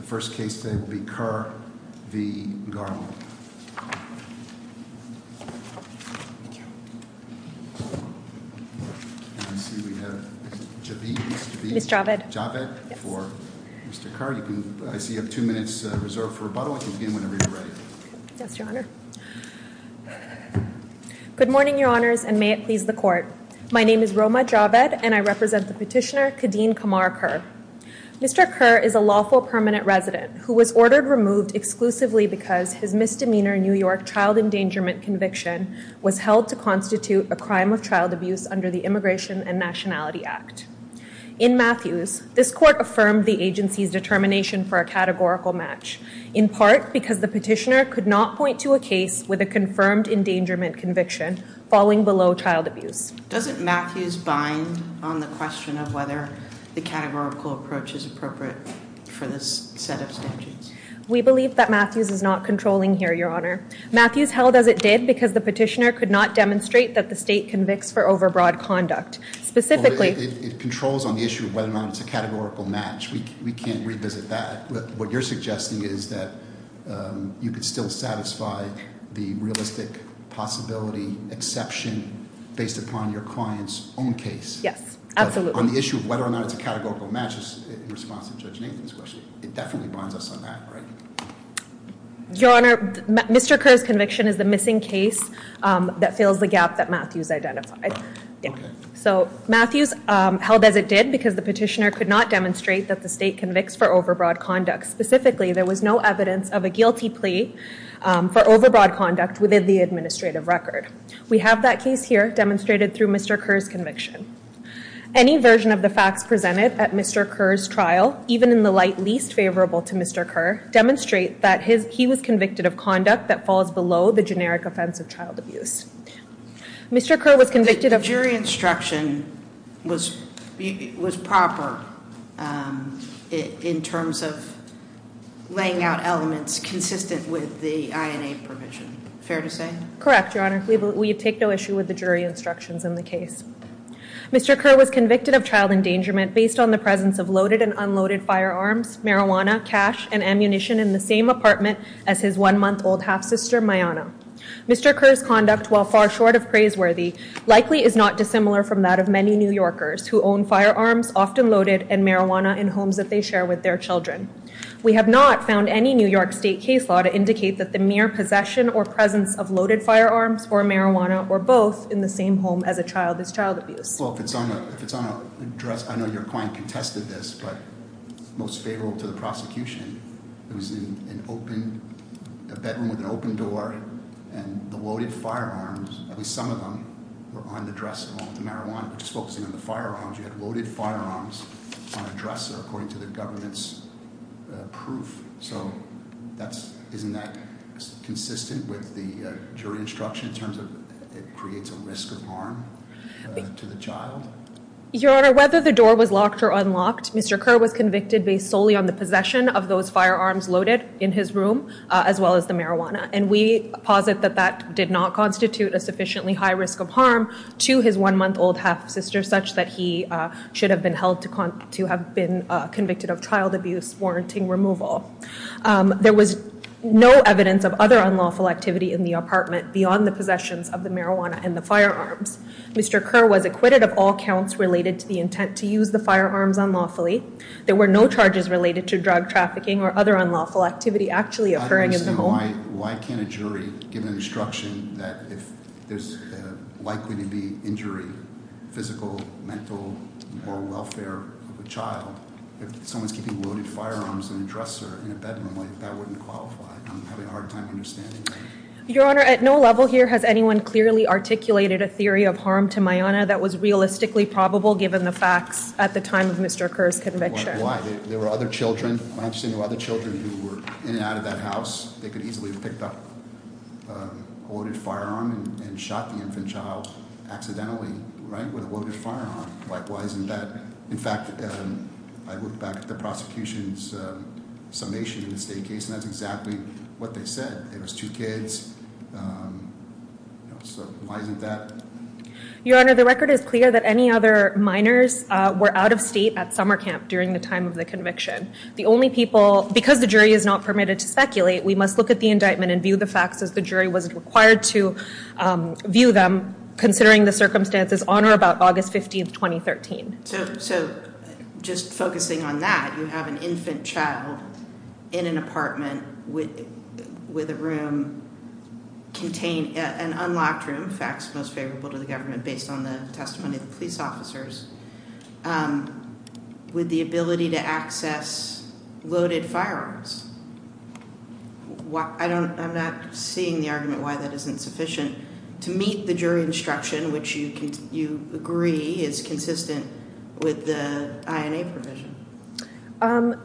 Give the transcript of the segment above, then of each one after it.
Mr. Kerr, I see you have two minutes reserved for rebuttal, you can begin whenever you are ready. Yes, Your Honor. Good morning, Your Honors, and may it please the Court. My name is Roma Javed, and I represent the petitioner, Kadeem Kamar Kerr. Mr. Kerr is a lawful permanent resident who was ordered removed exclusively because his misdemeanor New York child endangerment conviction was held to constitute a crime of child abuse under the Immigration and Nationality Act. In Matthews, this Court affirmed the agency's determination for a categorical match, in part because the petitioner could not point to a case with a confirmed endangerment conviction falling below child abuse. Doesn't Matthews bind on the question of whether the categorical approach is appropriate for this set of statutes? We believe that Matthews is not controlling here, Your Honor. Matthews held as it did because the petitioner could not demonstrate that the state convicts for overbroad conduct. It controls on the issue of whether or not it's a categorical match. We can't revisit that. What you're suggesting is that you could still satisfy the realistic possibility exception based upon your client's own case. Yes, absolutely. On the issue of whether or not it's a categorical match is in response to Judge Nathan's question. It definitely binds us on that, right? Your Honor, Mr. Kerr's conviction is the missing case that fills the gap that Matthews identified. Matthews held as it did because the petitioner could not demonstrate that the state convicts for overbroad conduct. Specifically, there was no evidence of a guilty plea for overbroad conduct within the administrative record. We have that case here demonstrated through Mr. Kerr's conviction. Any version of the facts presented at Mr. Kerr's trial, even in the light least favorable to Mr. Kerr, demonstrate that he was convicted of conduct that falls below the generic offense of child abuse. The jury instruction was proper in terms of laying out elements consistent with the INA provision. Fair to say? Correct, Your Honor. We take no issue with the jury instructions in the case. Mr. Kerr was convicted of child endangerment based on the presence of loaded and unloaded firearms, marijuana, cash, and ammunition in the same apartment as his one-month-old half-sister, Mayanna. Mr. Kerr's conduct, while far short of praiseworthy, likely is not dissimilar from that of many New Yorkers who own firearms, often loaded, and marijuana in homes that they share with their children. We have not found any New York State case law to indicate that the mere possession or presence of loaded firearms or marijuana were both in the same home as a child as child abuse. Well, if it's on a dresser, I know your client contested this, but most favorable to the prosecution, it was in an open, a bedroom with an open door, and the loaded firearms, at least some of them, were on the dresser along with the marijuana. Just focusing on the firearms, you had loaded firearms on a dresser according to the government's proof. Isn't that consistent with the jury instruction in terms of it creates a risk of harm to the child? Your Honor, whether the door was locked or unlocked, Mr. Kerr was convicted based solely on the possession of those firearms loaded in his room as well as the marijuana. And we posit that that did not constitute a sufficiently high risk of harm to his one-month-old half-sister such that he should have been held to have been convicted of child abuse warranting removal. There was no evidence of other unlawful activity in the apartment beyond the possessions of the marijuana and the firearms. Mr. Kerr was acquitted of all counts related to the intent to use the firearms unlawfully. There were no charges related to drug trafficking or other unlawful activity actually occurring in the home. Why can't a jury give an instruction that if there's likely to be injury, physical, mental, or welfare of a child, if someone's keeping loaded firearms on a dresser in a bedroom, that wouldn't qualify? I'm having a hard time understanding that. Your Honor, at no level here has anyone clearly articulated a theory of harm to Maiana that was realistically probable given the facts at the time of Mr. Kerr's conviction. Why? There were other children who were in and out of that house. They could easily have picked up a loaded firearm and shot the infant child accidentally with a loaded firearm. Why isn't that? In fact, I look back at the prosecution's summation in the state case, and that's exactly what they said. It was two kids. So why isn't that? Your Honor, the record is clear that any other minors were out of state at summer camp during the time of the conviction. The only people, because the jury is not permitted to speculate, we must look at the indictment and view the facts as the jury was required to view them, considering the circumstances on or about August 15th, 2013. So just focusing on that, you have an infant child in an apartment with a room contained, an unlocked room, facts most favorable to the government based on the testimony of the police officers, with the ability to access loaded firearms. I'm not seeing the argument why that isn't sufficient to meet the jury instruction, which you agree is consistent with the INA provision.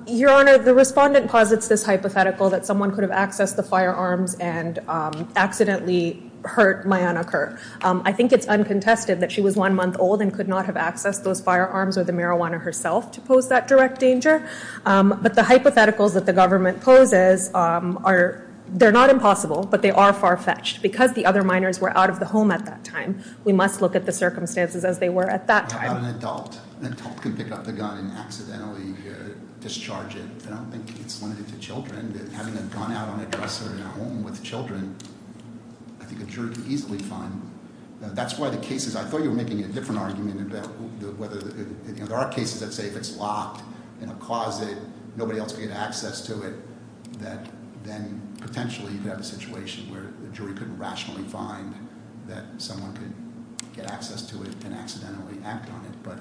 Your Honor, the respondent posits this hypothetical that someone could have accessed the firearms and accidentally hurt Mayanna Kerr. I think it's uncontested that she was one month old and could not have accessed those firearms or the marijuana herself to pose that direct danger. But the hypotheticals that the government poses, they're not impossible, but they are far-fetched. Because the other minors were out of the home at that time, we must look at the circumstances as they were at that time. How about an adult? An adult can pick up the gun and accidentally discharge it. I don't think it's limited to children. Having a gun out on a dresser in a home with children, I think a jury could easily find. I thought you were making a different argument. There are cases that say if it's locked in a closet, nobody else can get access to it, that then potentially you could have a situation where the jury couldn't rationally find that someone could get access to it and accidentally act on it. But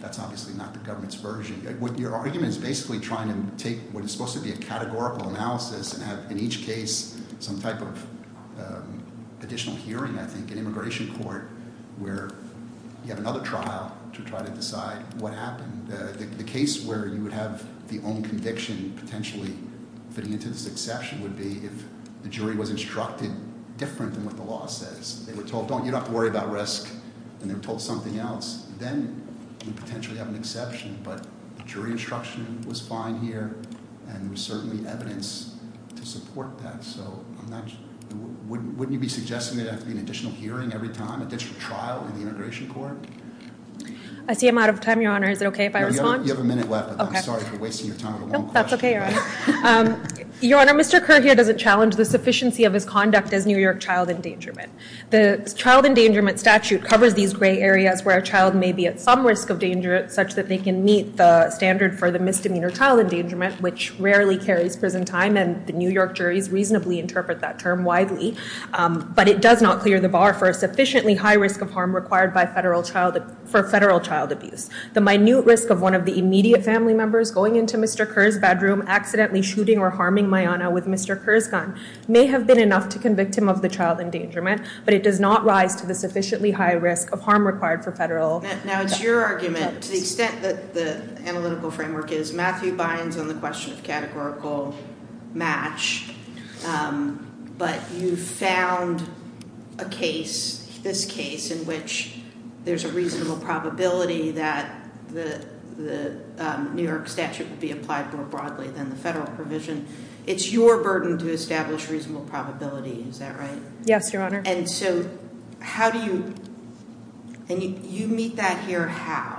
that's obviously not the government's version. Your argument is basically trying to take what is supposed to be a categorical analysis and have in each case some type of additional hearing, I think, in immigration court, where you have another trial to try to decide what happened. The case where you would have the own conviction potentially fitting into this exception would be if the jury was instructed different than what the law says. They were told, you don't have to worry about risk. And they were told something else, then you potentially have an exception. But the jury instruction was fine here, and there was certainly evidence to support that. So wouldn't you be suggesting there would have to be an additional hearing every time, an additional trial in the immigration court? I see I'm out of time, Your Honor. Is it okay if I respond? No, you have a minute left, but I'm sorry for wasting your time with one question. No, that's okay, Your Honor. Your Honor, Mr. Kerr here doesn't challenge the sufficiency of his conduct as New York child endangerment. The child endangerment statute covers these gray areas where a child may be at some risk of danger, such that they can meet the standard for the misdemeanor child endangerment, which rarely carries prison time, and the New York juries reasonably interpret that term widely. But it does not clear the bar for a sufficiently high risk of harm required for federal child abuse. The minute risk of one of the immediate family members going into Mr. Kerr's bedroom, accidentally shooting or harming Mayanna with Mr. Kerr's gun may have been enough to convict him of the child endangerment, but it does not rise to the sufficiently high risk of harm required for federal child abuse. Now, it's your argument, to the extent that the analytical framework is. Matthew Bynes on the question of categorical match. But you found a case, this case, in which there's a reasonable probability that the New York statute would be applied more broadly than the federal provision. It's your burden to establish reasonable probability, is that right? Yes, Your Honor. And so how do you, and you meet that here how?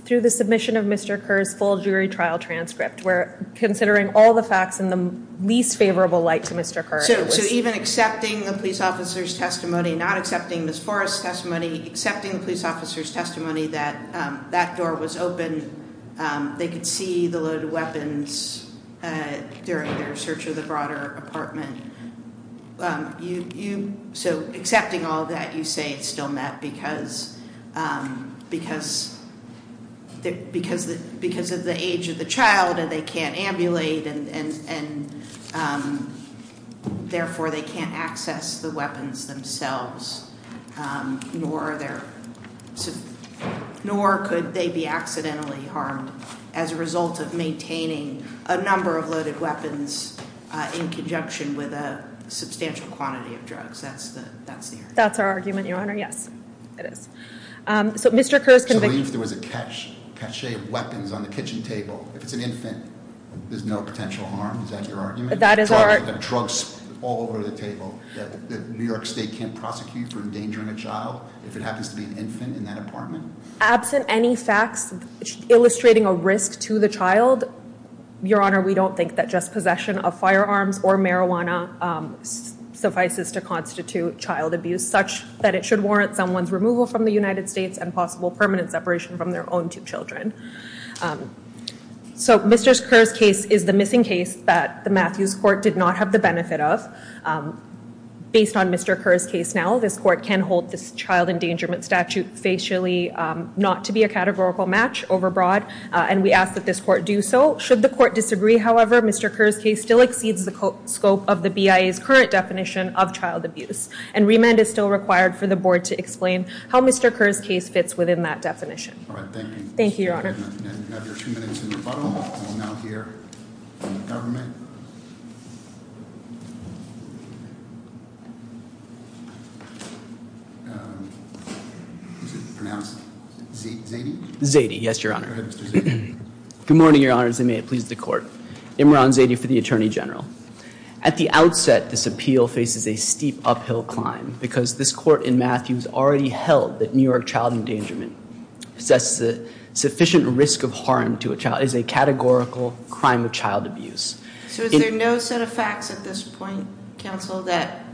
Through the submission of Mr. Kerr's full jury trial transcript. We're considering all the facts in the least favorable light to Mr. Kerr. So even accepting the police officer's testimony, not accepting Ms. Forrest's testimony, accepting the police officer's testimony that that door was open, they could see the loaded weapons during their search of the broader apartment. So accepting all that, you say it's still met because of the age of the child and they can't ambulate, and therefore, they can't access the weapons themselves. Nor could they be accidentally harmed as a result of maintaining a number of loaded weapons in conjunction with a substantial quantity of drugs. That's the argument. That's our argument, Your Honor. Yes, it is. So Mr. Kerr's conviction- So if there was a cache of weapons on the kitchen table, if it's an infant, there's no potential harm? Is that your argument? That is our- Drugs all over the table that New York State can't prosecute for endangering a child if it happens to be an infant in that apartment? Absent any facts illustrating a risk to the child, Your Honor, we don't think that just possession of firearms or marijuana suffices to constitute child abuse, such that it should warrant someone's removal from the United States and possible permanent separation from their own two children. So Mr. Kerr's case is the missing case that the Matthews Court did not have the benefit of. Based on Mr. Kerr's case now, this court can hold this child endangerment statute facially not to be a categorical match overbroad, and we ask that this court do so. Should the court disagree, however, Mr. Kerr's case still exceeds the scope of the BIA's current definition of child abuse, and remand is still required for the board to explain how Mr. Kerr's case fits within that definition. All right, thank you. Thank you, Your Honor. We have another two minutes in rebuttal, and we'll now hear from the government. Is it pronounced Zady? Zady, yes, Your Honor. Go ahead, Mr. Zady. Good morning, Your Honor, and may it please the court. Imran Zady for the Attorney General. At the outset, this appeal faces a steep uphill climb, because this court in Matthews already held that New York child endangerment assesses a sufficient risk of harm to a child, is a categorical crime of child abuse. So is there no set of facts at this point, Counsel? That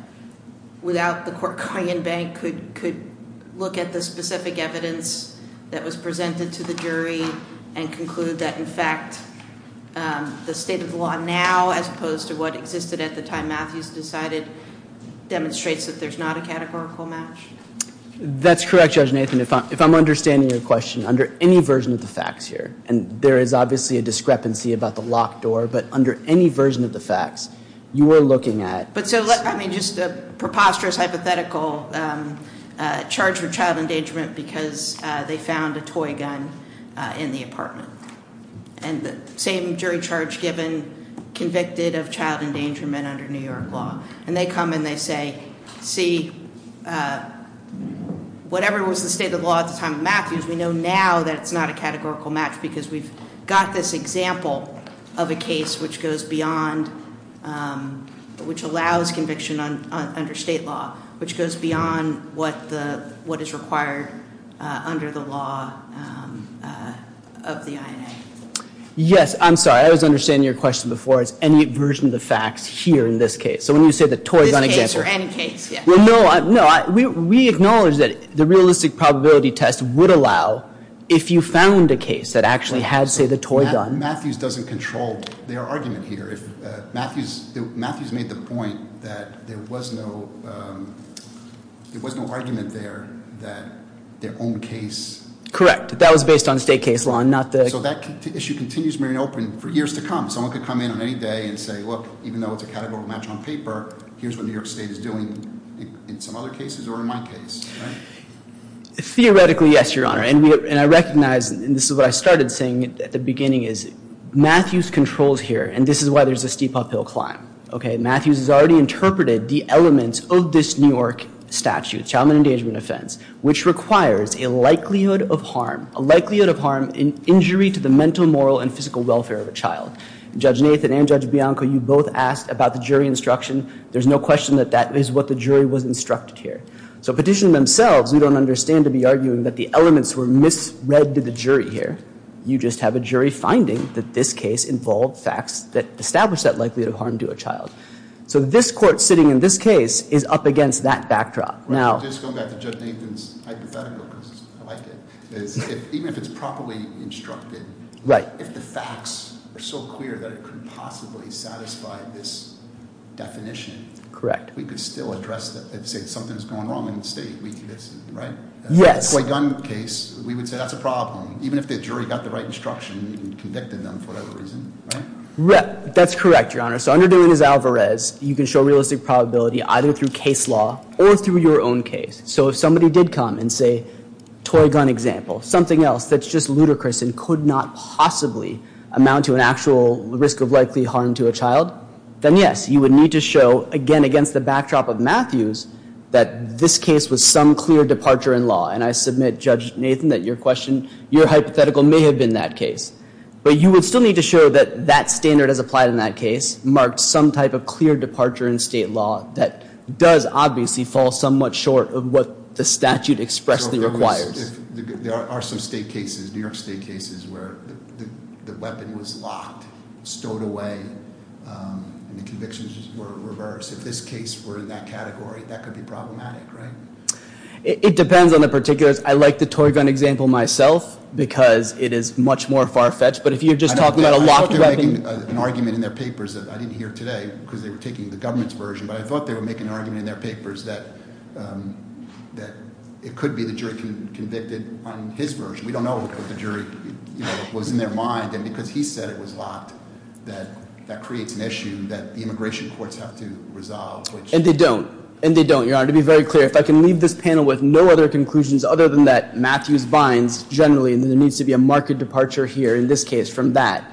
without the court, Korean Bank could look at the specific evidence that was presented to the jury and conclude that, in fact, the state of the law now, as opposed to what existed at the time Matthews decided, demonstrates that there's not a categorical match? That's correct, Judge Nathan. If I'm understanding your question, under any version of the facts here, and there is obviously a discrepancy about the locked door, but under any version of the facts, you are looking at I mean, just a preposterous hypothetical charge for child endangerment because they found a toy gun in the apartment. And the same jury charge given convicted of child endangerment under New York law. And they come and they say, see, whatever was the state of the law at the time of Matthews, we know now that it's not a categorical match because we've got this example of a case which goes beyond, which allows conviction under state law, which goes beyond what is required under the law of the INA. Yes, I'm sorry. I was understanding your question before. It's any version of the facts here in this case. So when you say the toy gun example. This case or any case, yes. No, we acknowledge that the realistic probability test would allow if you found a case that actually had, say, the toy gun. Matthews doesn't control their argument here. Matthews made the point that there was no argument there that their own case- Correct. That was based on state case law and not the- So that issue continues to remain open for years to come. Someone could come in on any day and say, look, even though it's a categorical match on paper, here's what New York State is doing in some other cases or in my case, right? Theoretically, yes, Your Honor. And I recognize, and this is what I started saying at the beginning, is Matthews controls here. And this is why there's a steep uphill climb. Matthews has already interpreted the elements of this New York statute, child endangerment offense, which requires a likelihood of harm, a likelihood of harm in injury to the mental, moral and physical welfare of a child. Judge Nathan and Judge Bianco, you both asked about the jury instruction. There's no question that that is what the jury was instructed here. So petition themselves, we don't understand to be arguing that the elements were misread to the jury here. You just have a jury finding that this case involved facts that establish that likelihood of harm to a child. So this court sitting in this case is up against that backdrop. Now- Just going back to Judge Nathan's hypothetical, because I like it, is even if it's properly instructed- Right. If the facts are so clear that it could possibly satisfy this definition- Correct. We could still address it and say something's going wrong in the state, right? Yes. Toy gun case, we would say that's a problem. Even if the jury got the right instruction and convicted them for that reason, right? That's correct, Your Honor. So under De Leon's alvarez, you can show realistic probability either through case law or through your own case. So if somebody did come and say, toy gun example, something else that's just ludicrous and could not possibly amount to an actual risk of likely harm to a child, then yes, you would need to show, again against the backdrop of Matthews, that this case was some clear departure in law. And I submit, Judge Nathan, that your hypothetical may have been that case. But you would still need to show that that standard as applied in that case marked some type of clear departure in state law that does obviously fall somewhat short of what the statute expressly requires. There are some state cases, New York State cases, where the weapon was locked, stowed away, and the convictions were reversed. If this case were in that category, that could be problematic, right? It depends on the particulars. I like the toy gun example myself, because it is much more far-fetched. But if you're just talking about a locked weapon- I thought they were making an argument in their papers that I didn't hear today, because they were taking the government's version. But I thought they were making an argument in their papers that it could be the jury convicted on his version. We don't know what the jury was in their mind. And because he said it was locked, that creates an issue that the immigration courts have to resolve. And they don't. And they don't, Your Honor. To be very clear, if I can leave this panel with no other conclusions other than that Matthews binds generally, then there needs to be a marked departure here in this case from that.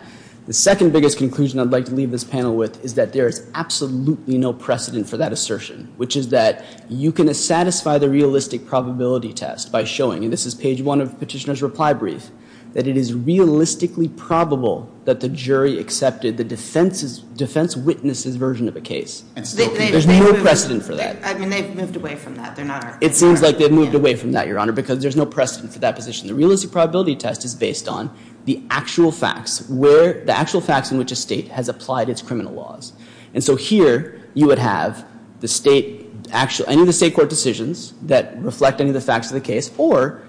The second biggest conclusion I'd like to leave this panel with is that there is absolutely no precedent for that assertion, which is that you can satisfy the realistic probability test by showing- and this is page one of Petitioner's reply brief- that it is realistically probable that the jury accepted the defense witness's version of a case. There's no precedent for that. I mean, they've moved away from that. It seems like they've moved away from that, Your Honor, because there's no precedent for that position. The realistic probability test is based on the actual facts in which a state has applied its criminal laws. And so here you would have any of the state court decisions that reflect any of the facts of the case, or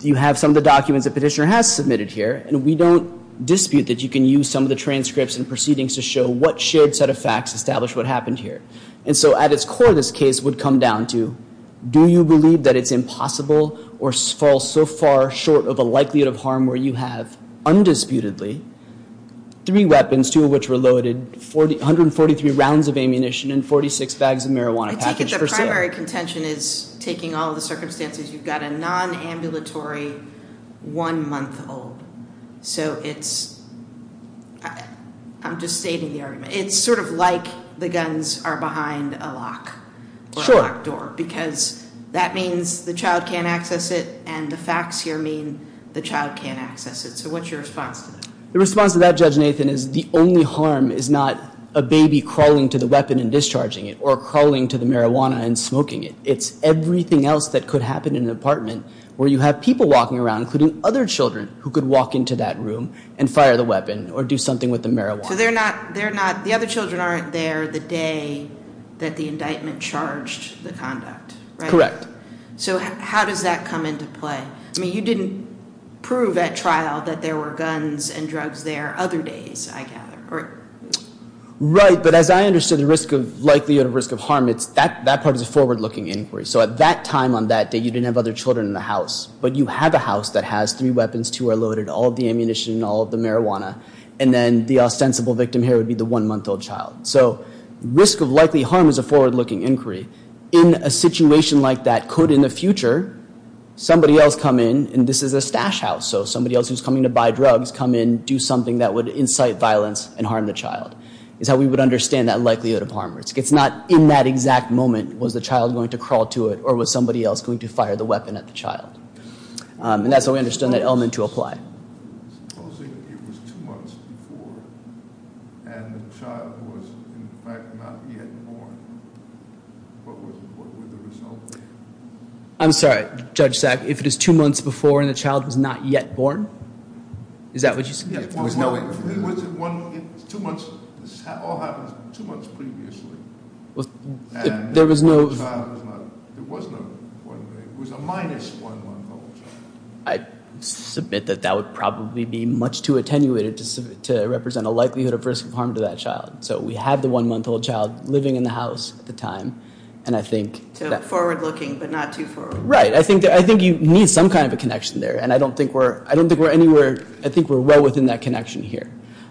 you have some of the documents that Petitioner has submitted here, and we don't dispute that you can use some of the transcripts and proceedings to show what shared set of facts establish what happened here. And so at its core, this case would come down to do you believe that it's impossible or fall so far short of a likelihood of harm where you have undisputedly three weapons, two of which were loaded, 143 rounds of ammunition, and 46 bags of marijuana packaged for sale? I take it the primary contention is, taking all the circumstances, you've got a nonambulatory one-month-old. So it's-I'm just stating the argument. It's sort of like the guns are behind a lock or a locked door, because that means the child can't access it, and the facts here mean the child can't access it. So what's your response to that? The response to that, Judge Nathan, is the only harm is not a baby crawling to the weapon and discharging it or crawling to the marijuana and smoking it. It's everything else that could happen in an apartment where you have people walking around, including other children, who could walk into that room and fire the weapon or do something with the marijuana. So they're not-the other children aren't there the day that the indictment charged the conduct, right? Correct. So how does that come into play? I mean, you didn't prove at trial that there were guns and drugs there other days, I gather. Right, but as I understood the risk of likelihood of risk of harm, that part is a forward-looking inquiry. So at that time on that day, you didn't have other children in the house, but you have a house that has three weapons, two are loaded, all of the ammunition, all of the marijuana, and then the ostensible victim here would be the one-month-old child. So risk of likely harm is a forward-looking inquiry. In a situation like that, could, in the future, somebody else come in, and this is a stash house, so somebody else who's coming to buy drugs come in, do something that would incite violence and harm the child, is how we would understand that likelihood of harm. It's not in that exact moment was the child going to crawl to it or was somebody else going to fire the weapon at the child. And that's how we understand that element to apply. Supposing it was two months before and the child was, in fact, not yet born. What would the result be? I'm sorry, Judge Sack, if it is two months before and the child was not yet born? Is that what you're saying? Yes. There was no information. It was two months. This all happens two months previously. There was no... There was no information. It was a minus-one-month-old child. I submit that that would probably be much too attenuated to represent a likelihood of risk of harm to that child. So we have the one-month-old child living in the house at the time, and I think... Forward-looking, but not too forward-looking. Right. I think you need some kind of a connection there, and I don't think we're anywhere... I think we're well within that connection here.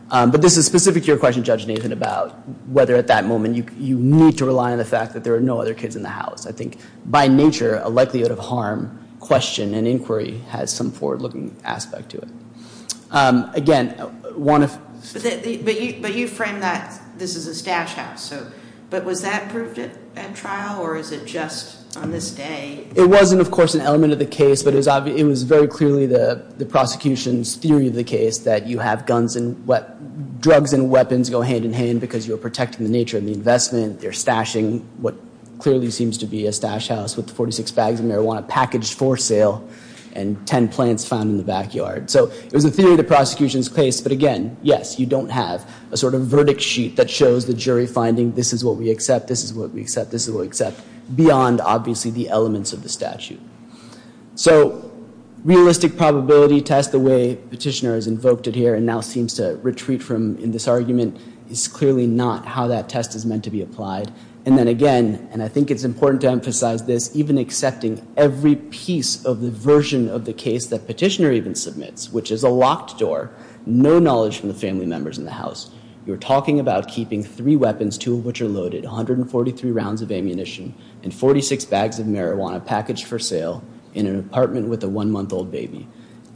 But this is specific to your question, Judge Nathan, about whether at that moment you need to rely on the fact that there are no other kids in the house. I think, by nature, a likelihood of harm question and inquiry has some forward-looking aspect to it. Again, one of... But you framed that this is a stash house. But was that proved at trial, or is it just on this day? It wasn't, of course, an element of the case, but it was very clearly the prosecution's theory of the case, that you have drugs and weapons go hand-in-hand because you're protecting the nature of the investment. They're stashing what clearly seems to be a stash house with 46 bags of marijuana packaged for sale and 10 plants found in the backyard. So it was a theory of the prosecution's case. But again, yes, you don't have a sort of verdict sheet that shows the jury finding, this is what we accept, this is what we accept, this is what we accept, beyond, obviously, the elements of the statute. So realistic probability test, the way Petitioner has invoked it here and now seems to retreat from in this argument, is clearly not how that test is meant to be applied. And then again, and I think it's important to emphasize this, even accepting every piece of the version of the case that Petitioner even submits, which is a locked door, no knowledge from the family members in the house, you're talking about keeping three weapons, two of which are loaded, 143 rounds of ammunition, and 46 bags of marijuana packaged for sale in an apartment with a one-month-old baby.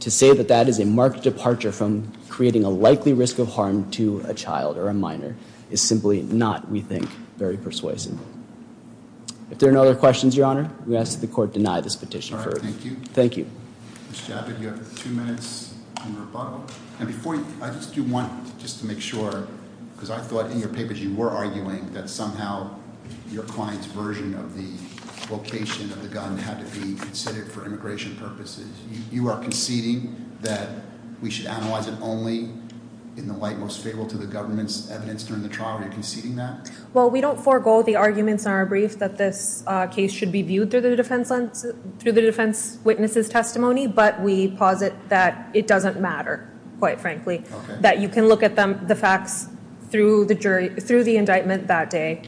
To say that that is a marked departure from creating a likely risk of harm to a child or a minor is simply not, we think, very persuasive. If there are no other questions, Your Honor, I'm going to ask that the Court deny this petition. All right, thank you. Thank you. Ms. Chabot, you have two minutes in rebuttal. I just do want, just to make sure, because I thought in your papers you were arguing that somehow your client's version of the location of the gun had to be considered for immigration purposes. You are conceding that we should analyze it only in the light most favorable to the government's evidence during the trial? Are you conceding that? Well, we don't forego the arguments in our brief that this case should be viewed through the defense witness's testimony, but we posit that it doesn't matter, quite frankly, that you can look at the facts through the indictment that day,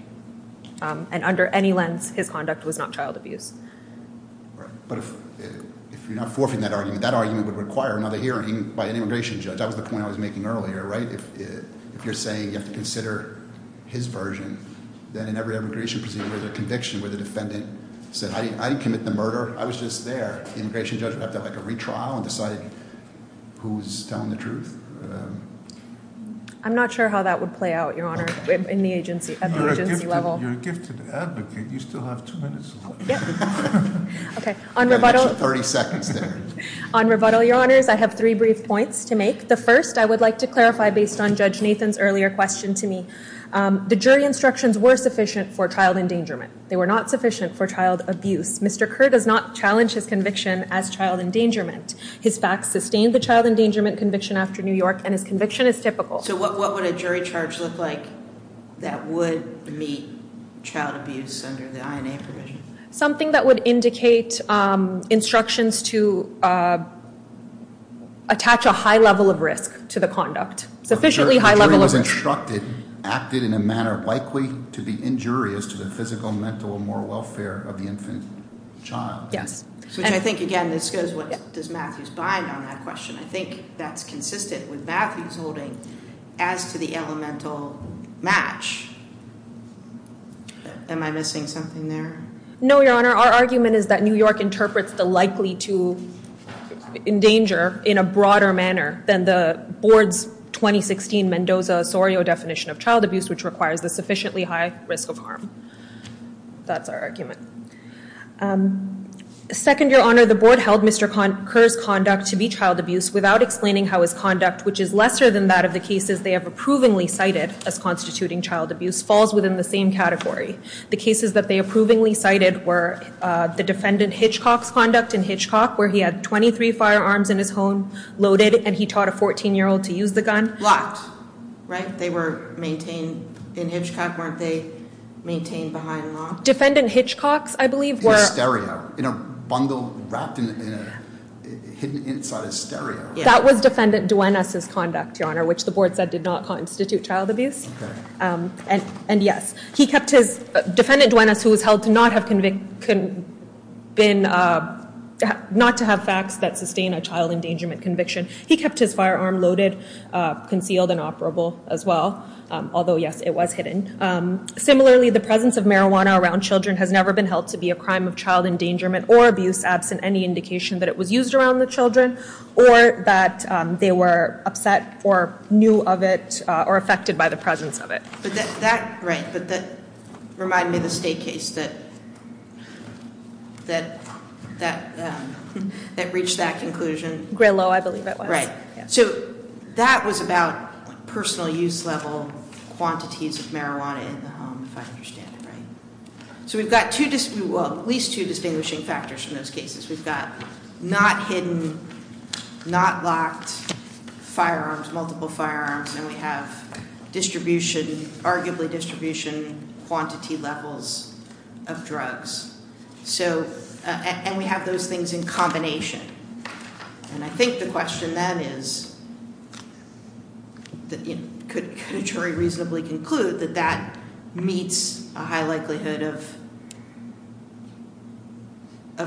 and under any lens, his conduct was not child abuse. But if you're not forfeiting that argument, that argument would require another hearing by an immigration judge. That was the point I was making earlier, right? If you're saying you have to consider his version, then in every immigration proceeding where there's a conviction, where the defendant said, I didn't commit the murder, I was just there, the immigration judge would have to have a retrial and decide who's telling the truth? I'm not sure how that would play out, Your Honour, at the agency level. You're a gifted advocate. You still have two minutes left. Okay, on rebuttal, Your Honours, I have three brief points to make. The first I would like to clarify based on Judge Nathan's earlier question to me. The jury instructions were sufficient for child endangerment. They were not sufficient for child abuse. Mr. Kerr does not challenge his conviction as child endangerment. His facts sustain the child endangerment conviction after New York, and his conviction is typical. So what would a jury charge look like that would meet child abuse under the INA provision? Something that would indicate instructions to attach a high level of risk to the conduct. The jury was instructed, acted in a manner likely to be injurious to the physical, mental, and moral welfare of the infant child. Yes. Which I think, again, this goes, does Matthews bind on that question? I think that's consistent with Matthews holding as to the elemental match. Am I missing something there? No, Your Honour. Our argument is that New York interprets the likely to endanger in a broader manner than the board's 2016 Mendoza-Osorio definition of child abuse, which requires the sufficiently high risk of harm. That's our argument. Second, Your Honour, the board held Mr. Kerr's conduct to be child abuse without explaining how his conduct, which is lesser than that of the cases they have approvingly cited as constituting child abuse, falls within the same category. The cases that they approvingly cited were the defendant Hitchcock's conduct in Hitchcock, where he had 23 firearms in his home, loaded, and he taught a 14-year-old to use the gun. Locked, right? They were maintained in Hitchcock, weren't they? Maintained behind locked? Defendant Hitchcock's, I believe, were... In a stereo, in a bundle wrapped in a, hidden inside a stereo. That was defendant Duenas' conduct, Your Honour, which the board said did not constitute child abuse. Okay. And, yes, he kept his... Defendant Duenas, who was held to not have been... Not to have facts that sustain a child endangerment conviction, he kept his firearm loaded, concealed, and operable as well. Although, yes, it was hidden. Similarly, the presence of marijuana around children has never been held to be a crime of child endangerment or abuse absent any indication that it was used around the children or that they were upset or knew of it or affected by the presence of it. But that, right, but that reminded me of the state case that reached that conclusion. Gray Low, I believe it was. Right. So that was about personal use level quantities of marijuana in the home, if I understand it right. So we've got at least two distinguishing factors in those cases. We've got not hidden, not locked firearms, multiple firearms, and we have distribution, arguably distribution quantity levels of drugs. So, and we have those things in combination. And I think the question then is, could a jury reasonably conclude that that meets a high likelihood of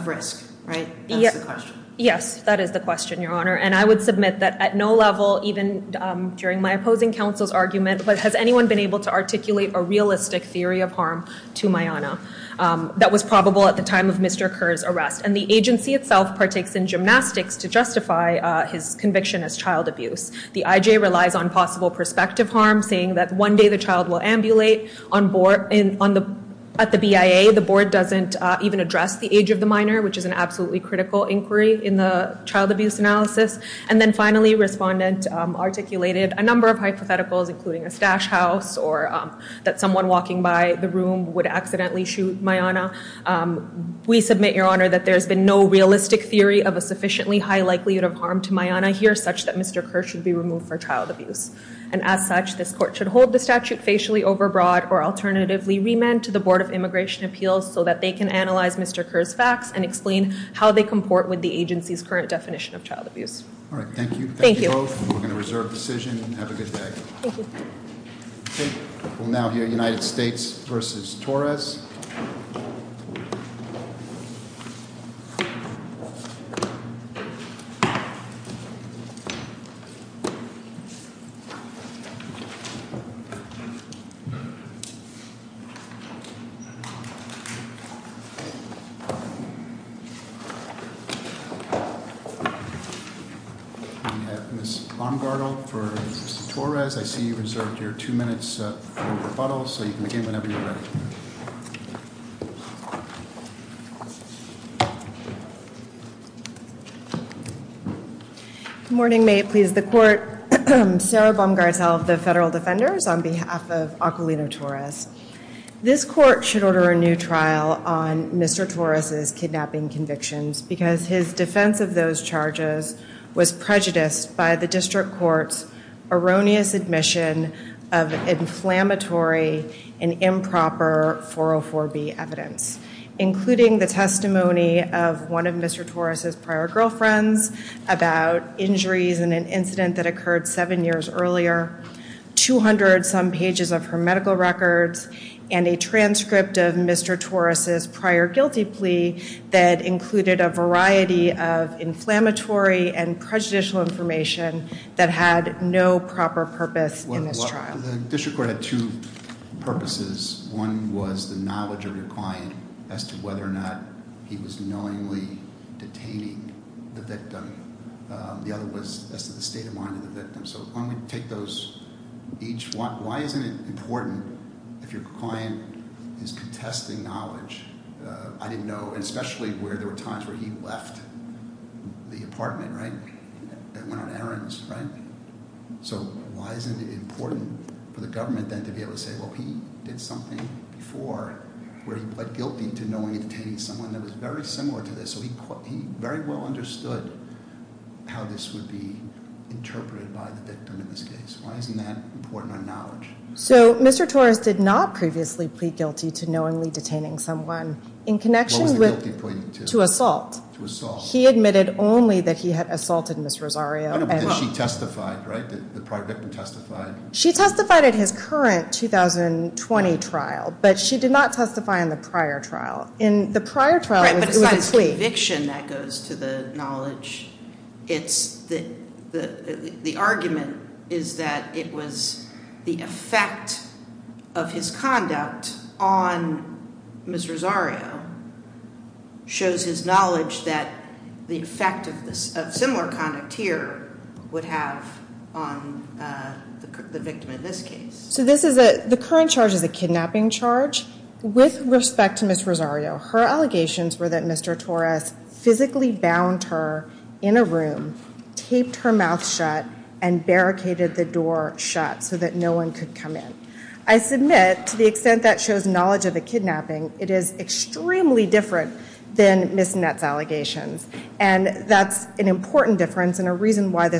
risk, right? That's the question. Yes, that is the question, Your Honor. And I would submit that at no level, even during my opposing counsel's argument, has anyone been able to articulate a realistic theory of harm to Mayanna that was probable at the time of Mr. Kerr's arrest. And the agency itself partakes in gymnastics to justify his conviction as child abuse. The IJ relies on possible prospective harm, saying that one day the child will ambulate. At the BIA, the board doesn't even address the age of the minor, which is an absolutely critical inquiry in the child abuse analysis. And then finally, a respondent articulated a number of hypotheticals, including a stash house or that someone walking by the room would accidentally shoot Mayanna. We submit, Your Honor, that there's been no realistic theory of a sufficiently high likelihood of harm to Mayanna here, such that Mr. Kerr should be removed for child abuse. And as such, this court should hold the statute facially overbroad or alternatively remand to the Board of Immigration Appeals so that they can analyze Mr. Kerr's facts and explain how they comport with the agency's current definition of child abuse. All right, thank you. Thank you both. We're going to reserve decision and have a good day. Thank you. We'll now hear United States v. Torres. We have Ms. Baumgartel for Mr. Torres. I see you reserved your two minutes for rebuttal, so you can begin whenever you're ready. Good morning. May it please the Court. Sarah Baumgartel of the Federal Defenders on behalf of Aquilino Torres. This court should order a new trial on Mr. Torres' kidnapping convictions because his defense of those charges was prejudiced by the district court's erroneous admission of inflammatory and improper 404B evidence, including the testimony of one of Mr. Torres' prior girlfriends about injuries in an incident that occurred seven years earlier, 200-some pages of her medical records, and a transcript of Mr. Torres' prior guilty plea that included a variety of inflammatory and prejudicial information that had no proper purpose in this trial. The district court had two purposes. One was the knowledge of your client as to whether or not he was knowingly detaining the victim. The other was as to the state of mind of the victim. So why isn't it important if your client is contesting knowledge? I didn't know, and especially where there were times where he left the apartment, right, and went on errands, right? So why isn't it important for the government then to be able to say, well, he did something before where he pled guilty to knowingly detaining someone that was very similar to this? So he very well understood how this would be interpreted by the victim in this case. Why isn't that important on knowledge? So Mr. Torres did not previously plead guilty to knowingly detaining someone in connection with- What was the guilty plea to? To assault. To assault. He admitted only that he had assaulted Ms. Rosario. Did she testify, right? Did the prior victim testify? She testified at his current 2020 trial, but she did not testify in the prior trial. In the prior trial, it was a plea. Right, but aside from conviction, that goes to the knowledge. The argument is that it was the effect of his conduct on Ms. Rosario shows his knowledge that the effect of similar conduct here would have on the victim in this case. The current charge is a kidnapping charge. With respect to Ms. Rosario, her allegations were that Mr. Torres physically bound her in a room, taped her mouth shut, and barricaded the door shut so that no one could come in. I submit, to the extent that shows knowledge of the kidnapping, it is extremely different than Ms. Nett's allegations. And that's an important difference and a reason why this-